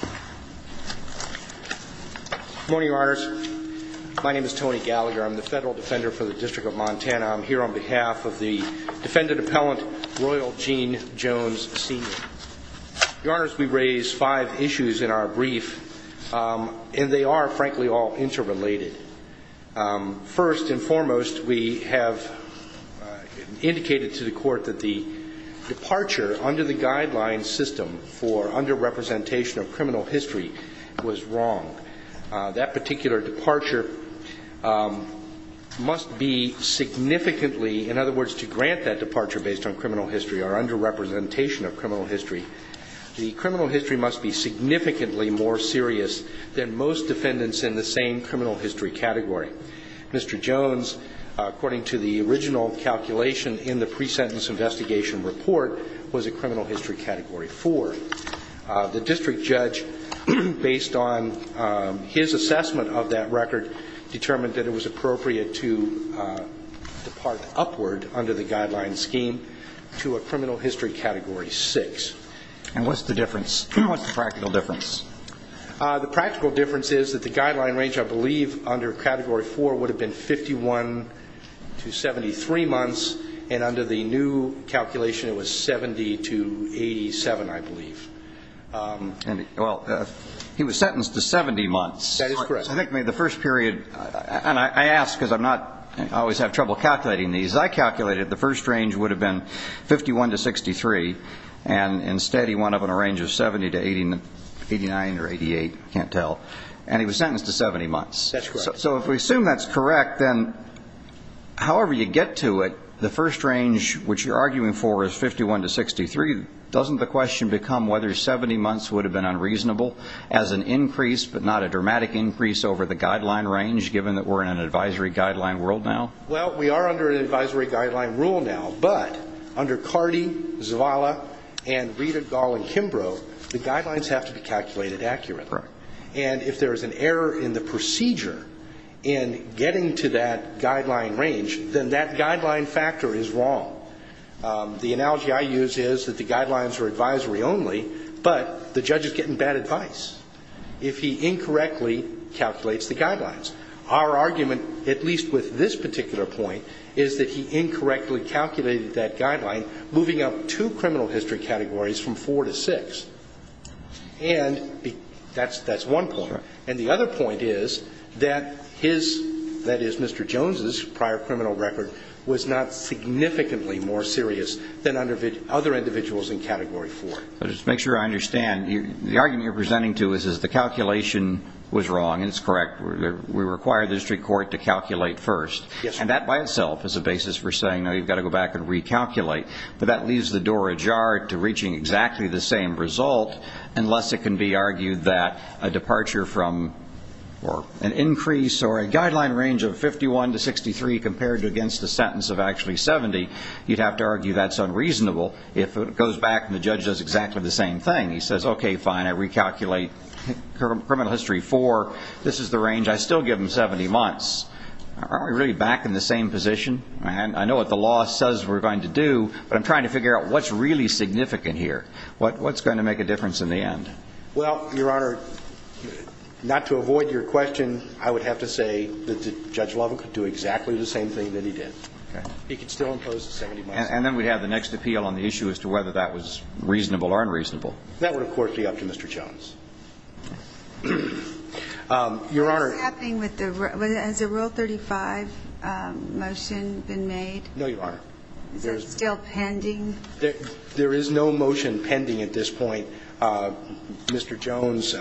Good morning, Your Honors. My name is Tony Gallagher. I'm the Federal Defender for the District of Montana. I'm here on behalf of the Defendant Appellant, Royal Gene Jones, Sr. Your Honors, we raise five issues in our brief, and they are, frankly, all interrelated. First and foremost, we have indicated to the Court that the departure under the Guidelines System for under-representation of criminal history was wrong. That particular departure must be significantly, in other words, to grant that departure based on criminal history or under-representation of criminal history, the criminal history must be significantly more serious than most defendants in the same criminal history category. Mr. Jones, according to the original calculation in the pre-sentence investigation report, was a criminal history category 4. The District Judge, based on his assessment of that record, determined that it was appropriate to depart upward under the Guidelines Scheme to a criminal history category 6. And what's the difference? What's the practical difference? The practical difference is that the Guideline range, I believe, under category 4 would have been 51 to 73 months, and under the new calculation, it was 70 to 87, I believe. Well, he was sentenced to 70 months. That is correct. I think the first period, and I ask because I'm not always have trouble calculating these. As I calculated, the first range would have been 51 to 63, and instead he wound up in a range of 70 to 89 or 88, I can't tell. And he was sentenced to 70 months. That's correct. So if we assume that's correct, then however you get to it, the first range, which you're arguing for, is 51 to 63, doesn't the question become whether 70 months would have been unreasonable as an increase, but not a dramatic increase, over the Guideline range, given that we're in an advisory guideline world now? Well, we are under an advisory guideline rule now, but under Cardi, Zavala, and Riedel, Gall, and Kimbrough, the guidelines have to be calculated accurately. Correct. And if there is an error in the procedure in getting to that guideline range, then that guideline factor is wrong. The analogy I use is that the guidelines are advisory only, but the judge is getting bad advice if he incorrectly calculates the guidelines. Our argument, at least with this particular point, is that he incorrectly calculated that guideline, moving up two criminal history categories from 4 to 6. And that's one point. And the other point is that his, that is, Mr. Jones' prior criminal record, was incorrect. It was not significantly more serious than other individuals in Category 4. Just to make sure I understand, the argument you're presenting to us is the calculation was wrong, and it's correct. We require the district court to calculate first. And that, by itself, is a basis for saying, no, you've got to go back and recalculate. But that leaves the door ajar to reaching exactly the same result, unless it can be argued that a departure from an increase or a guideline range of 51 to 63 compared to against a sentence of actually 70, you'd have to argue that's unreasonable if it goes back and the judge does exactly the same thing. He says, okay, fine, I recalculate criminal history 4. This is the range. I still give him 70 months. Aren't we really back in the same position? I know what the law says we're going to do, but I'm trying to figure out what's really significant here. What's going to make a difference in the end? Well, Your Honor, not to avoid your question, I would have to say that Judge Lovell could do exactly the same thing that he did. He could still impose a 70-month sentence. And then we'd have the next appeal on the issue as to whether that was reasonable or unreasonable. That would, of course, be up to Mr. Jones. Your Honor. What's happening with the rule? Has a Rule 35 motion been made? No, Your Honor. Is it still pending? There is no motion pending at this point. Mr. Jones,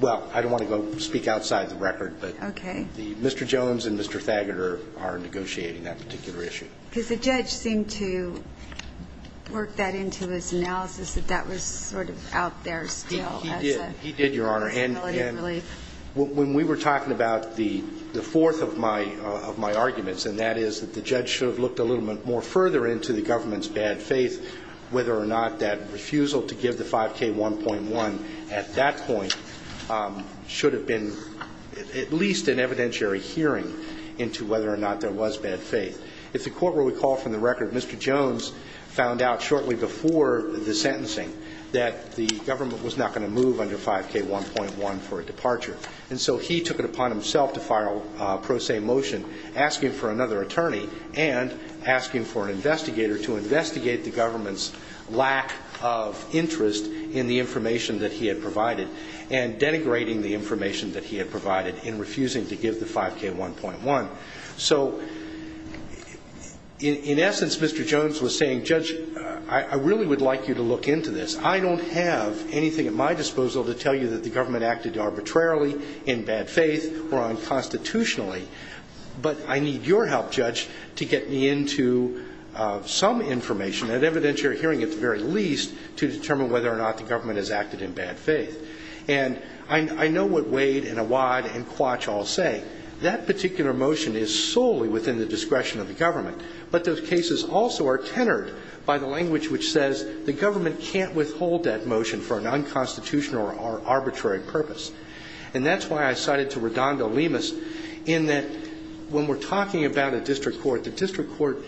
well, I don't want to go speak outside the record, but Mr. Jones and Mr. Thageter are negotiating that particular issue. Because the judge seemed to work that into his analysis, that that was sort of out there still as a possibility of relief. He did, Your Honor. And when we were talking about the fourth of my arguments, and that is that the judge should have looked a little bit more further into the government's bad faith, whether or not that refusal to give the 5K1.1 at that point should have been at least an evidentiary hearing into whether or not there was bad faith. If the court will recall from the record, Mr. Jones found out shortly before the sentencing that the government was not going to move under 5K1.1 for a departure. And so he took it upon himself to file a pro se motion asking for another attorney and asking for an investigator to investigate the government's lack of interest in the information that he had provided and denigrating the information that he had provided in refusing to give the 5K1.1. So in essence, Mr. Jones was saying, Judge, I really would like you to look into this. I don't have anything at my disposal to tell you that the government acted arbitrarily, in bad faith, or unconstitutionally. But I need your help, Judge, to get me into some information, an evidentiary hearing at the very least, to determine whether or not the government has acted in bad faith. And I know what Wade and Awad and Quatch all say. That particular motion is solely within the discretion of the government. But those cases also are tenored by the language which says the government can't withhold that motion for an unconstitutional or arbitrary purpose. And that's why I cited to Redondo Lemus in that when we're talking about a district court, the district court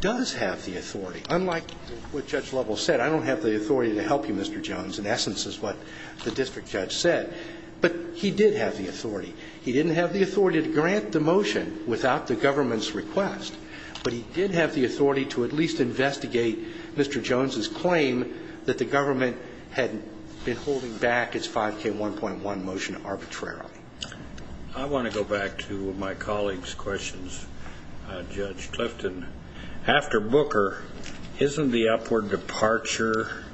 does have the authority. Unlike what Judge Lovell said, I don't have the authority to help you, Mr. Jones, in essence is what the district judge said. But he did have the authority. He didn't have the authority to grant the motion without the government's request. But he did have the authority to at least investigate Mr. Jones's claim that the government had been holding back its 5K1.1 motion arbitrarily. I want to go back to my colleague's questions, Judge Clifton. After Booker, isn't the upward departure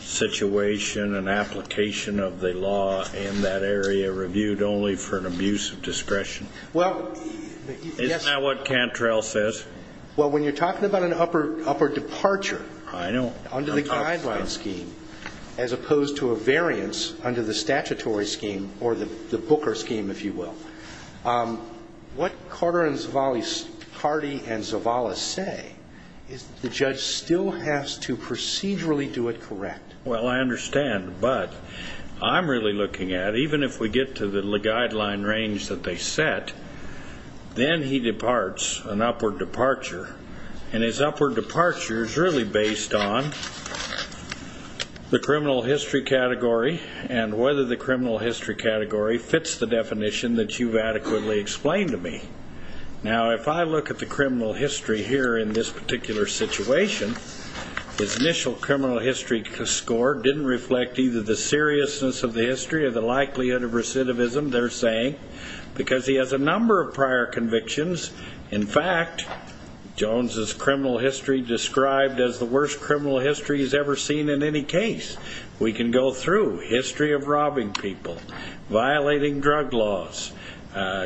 situation and application of the law in that area reviewed only for an abuse of discretion? Isn't that what Cantrell says? Well, when you're talking about an upward departure under the guideline scheme, as opposed to a variance under the statutory scheme or the Booker scheme, if you will, what Carter and Zavala say is the judge still has to procedurally do it correct. Well, I understand. But I'm really looking at, even if we get to the guideline range that they set, then he departs, an upward departure. And his upward departure is really based on the criminal history category and whether the criminal history category fits the definition that you've adequately explained to me. Now, if I look at the criminal history here in this particular situation, his initial criminal history score didn't reflect either the seriousness of the history or the likelihood of recidivism, they're saying, because he has a number of prior convictions. In fact, Jones's criminal history described as the worst criminal history he's ever seen in any case. We can go through history of robbing people, violating drug laws.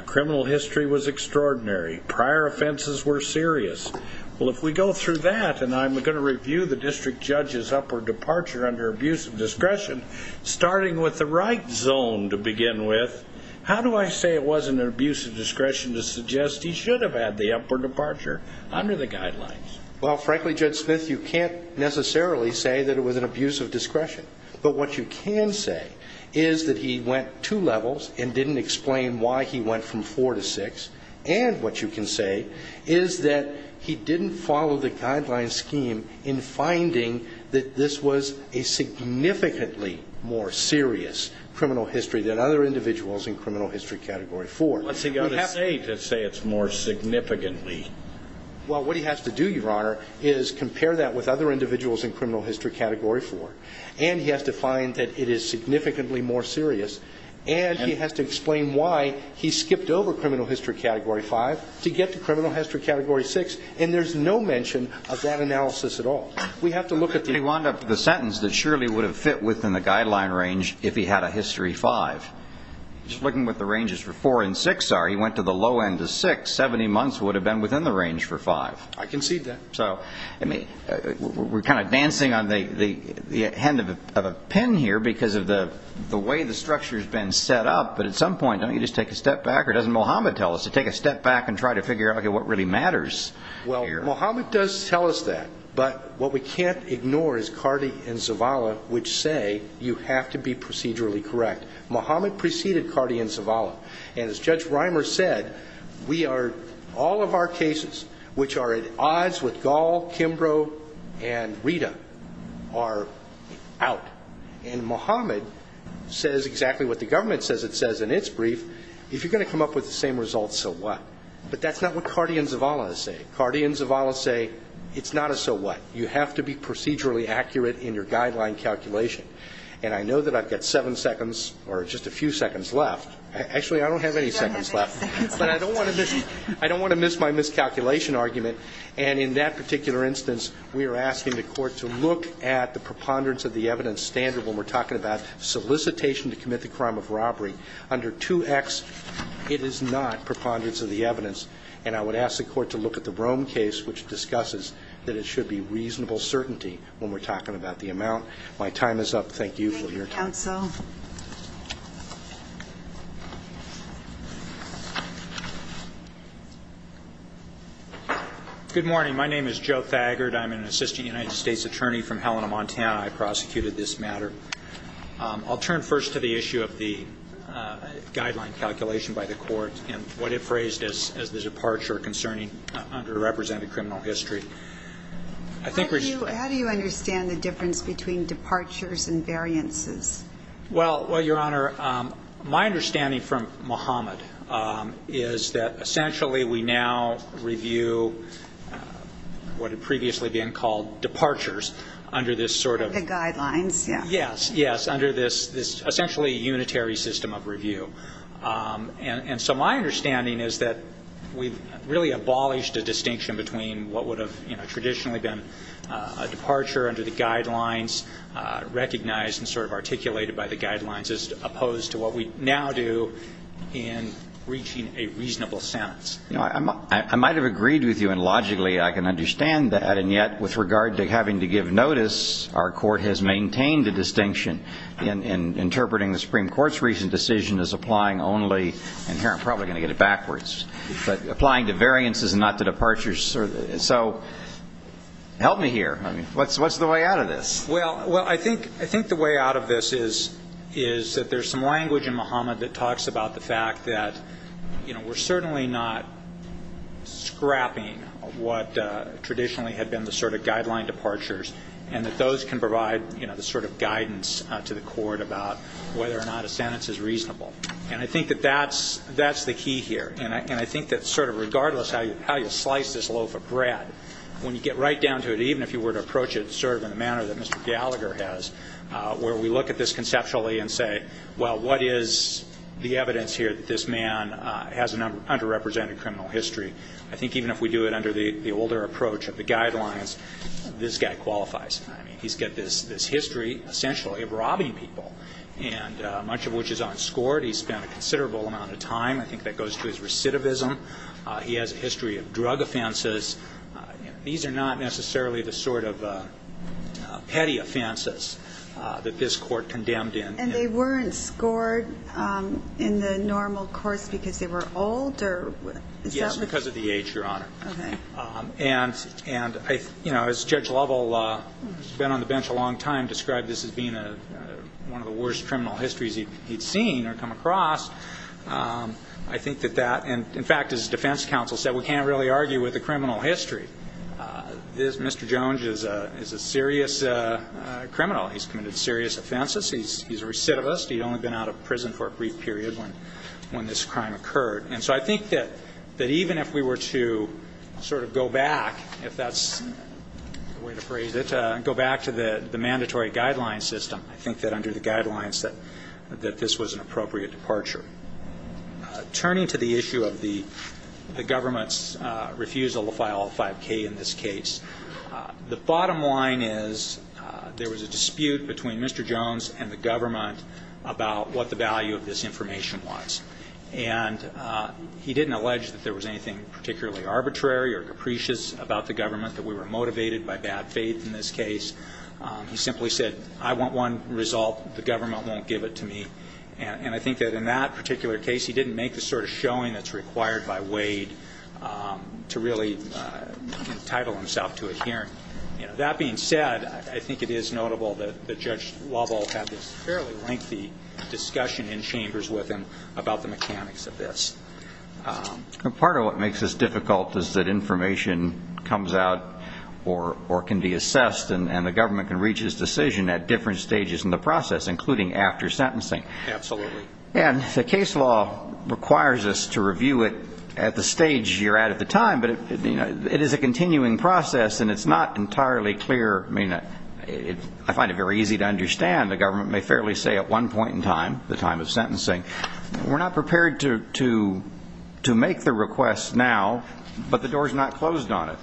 Criminal history was extraordinary. Prior offenses were serious. Well, if we go through that, and I'm going to review the district judge's upward departure under abuse of discretion, starting with the right zone to begin with, how do I say it wasn't an abuse of discretion to suggest he should have had the upward departure under the guidelines? Well, frankly, Judge Smith, you can't necessarily say that it was an abuse of discretion. But what you can say is that he went two levels and didn't explain why he went from four to six, and what you can say is that he didn't follow the guideline scheme in finding that this was a significantly more serious criminal history than other individuals in criminal history category four. What's he got to say to say it's more significantly? Well, what he has to do, Your Honor, is compare that with other individuals in criminal history category four, and he has to find that it is significantly more serious, and he has to explain why he skipped over criminal history category five to get to criminal history category six, and there's no mention of that analysis at all. We have to look at the... He wound up with a sentence that surely would have fit within the guideline range if he had a history five. Just looking what the ranges for four and six are, he went to the low end of six. Seventy months would have been within the range for five. I concede that. So we're kind of dancing on the end of a pin here because of the way the structure has been set up, but at some point, don't you just take a step back? Or doesn't Mohammed tell us to take a step back and try to figure out what really matters here? Well, Mohammed does tell us that, but what we can't ignore is Cardi and Zavala, which say you have to be procedurally correct. Mohammed preceded Cardi and Zavala, and as Judge Reimer said, all of our cases which are at odds with Gall, Kimbrough, and Rita are out. And Mohammed says exactly what the government says it says in its brief. If you're going to come up with the same results, so what? But that's not what Cardi and Zavala say. Cardi and Zavala say it's not a so what. You have to be procedurally accurate in your guideline calculation. And I know that I've got seven seconds or just a few seconds left. Actually, I don't have any seconds left. But I don't want to miss my miscalculation argument. And in that particular instance, we are asking the Court to look at the preponderance of the evidence standard when we're talking about solicitation to commit the crime of robbery. Under 2X, it is not preponderance of the evidence. And I would ask the Court to look at the Rome case, which discusses that it should be reasonable certainty when we're talking about the amount. My time is up. Thank you for your time. Counsel. Good morning. My name is Joe Thagard. I'm an assistant United States attorney from Helena, Montana. I prosecuted this matter. I'll turn first to the issue of the guideline calculation by the Court and what it phrased as the departure concerning underrepresented criminal history. How do you understand the difference between departures and variances? Well, Your Honor, my understanding from Mohamed is that, essentially, we now review what had previously been called departures under this sort of... The guidelines, yeah. Yes, yes, under this essentially unitary system of review. And so my understanding is that we've really abolished a distinction between what would have traditionally been a departure under the guidelines, recognized and sort of articulated by the guidelines, as opposed to what we now do in reaching a reasonable sentence. I might have agreed with you, and logically I can understand that, and yet with regard to having to give notice, our Court has maintained the distinction in interpreting the Supreme Court's recent decision as applying only, and here I'm probably going to get it backwards, but applying to variances and not to departures. So help me here. What's the way out of this? Well, I think the way out of this is that there's some language in Mohamed that talks about the fact that we're certainly not scrapping what traditionally had been the sort of guideline departures and that those can provide the sort of guidance to the Court about whether or not a sentence is reasonable. And I think that that's the key here. And I think that sort of regardless how you slice this loaf of bread, when you get right down to it, even if you were to approach it sort of in the manner that Mr. Gallagher has, where we look at this conceptually and say, well, what is the evidence here that this man has an underrepresented criminal history? I think even if we do it under the older approach of the guidelines, this guy qualifies. I mean, he's got this history, essentially, of robbing people, much of which is unscored. He's spent a considerable amount of time. I think that goes to his recidivism. He has a history of drug offenses. These are not necessarily the sort of petty offenses that this Court condemned him. And they weren't scored in the normal course because they were older? Yes, because of the age, Your Honor. Okay. And, you know, as Judge Lovell, who's been on the bench a long time, described this as being one of the worst criminal histories he'd seen or come across, I think that that, in fact, as defense counsel said, we can't really argue with the criminal history. Mr. Jones is a serious criminal. He's committed serious offenses. He's a recidivist. He'd only been out of prison for a brief period when this crime occurred. And so I think that even if we were to sort of go back, if that's the way to phrase it, go back to the mandatory guidelines system, I think that under the guidelines that this was an appropriate departure. Turning to the issue of the government's refusal to file a 5K in this case, the bottom line is there was a dispute between Mr. Jones and the government about what the value of this information was. And he didn't allege that there was anything particularly arbitrary or capricious about the government, that we were motivated by bad faith in this case. He simply said, I want one result. The government won't give it to me. And I think that in that particular case, he didn't make the sort of showing that's required by Wade to really entitle himself to a hearing. That being said, I think it is notable that Judge Lovell had this fairly lengthy discussion in chambers with him about the mechanics of this. Part of what makes this difficult is that information comes out or can be assessed and the government can reach its decision at different stages in the process, including after sentencing. Absolutely. And the case law requires us to review it at the stage you're at at the time, but it is a continuing process and it's not entirely clear. I find it very easy to understand. The government may fairly say at one point in time, the time of sentencing, we're not prepared to make the request now, but the door's not closed on it.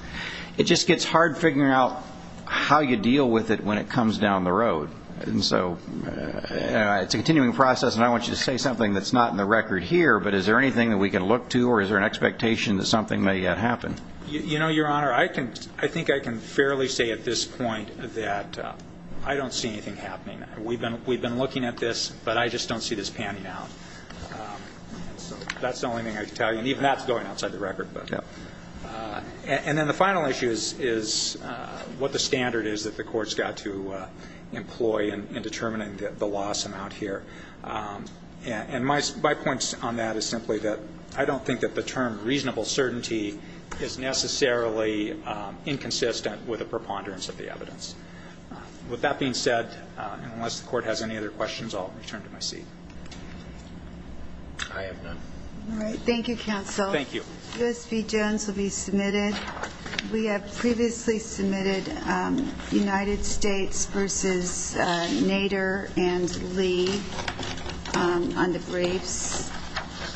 It just gets hard figuring out how you deal with it when it comes down the road. And so it's a continuing process, and I want you to say something that's not in the record here, but is there anything that we can look to or is there an expectation that something may yet happen? You know, Your Honor, I think I can fairly say at this point that I don't see anything happening. We've been looking at this, but I just don't see this panning out. That's the only thing I can tell you, and even that's going outside the record. And then the final issue is what the standard is that the court's got to employ in determining the loss amount here. And my point on that is simply that I don't think that the term reasonable certainty is necessarily inconsistent with a preponderance of the evidence. With that being said, and unless the court has any other questions, I'll return to my seat. I have none. All right. Thank you, counsel. Thank you. U.S. v. Jones will be submitted. We have previously submitted United States v. Nader and Lee on the briefs.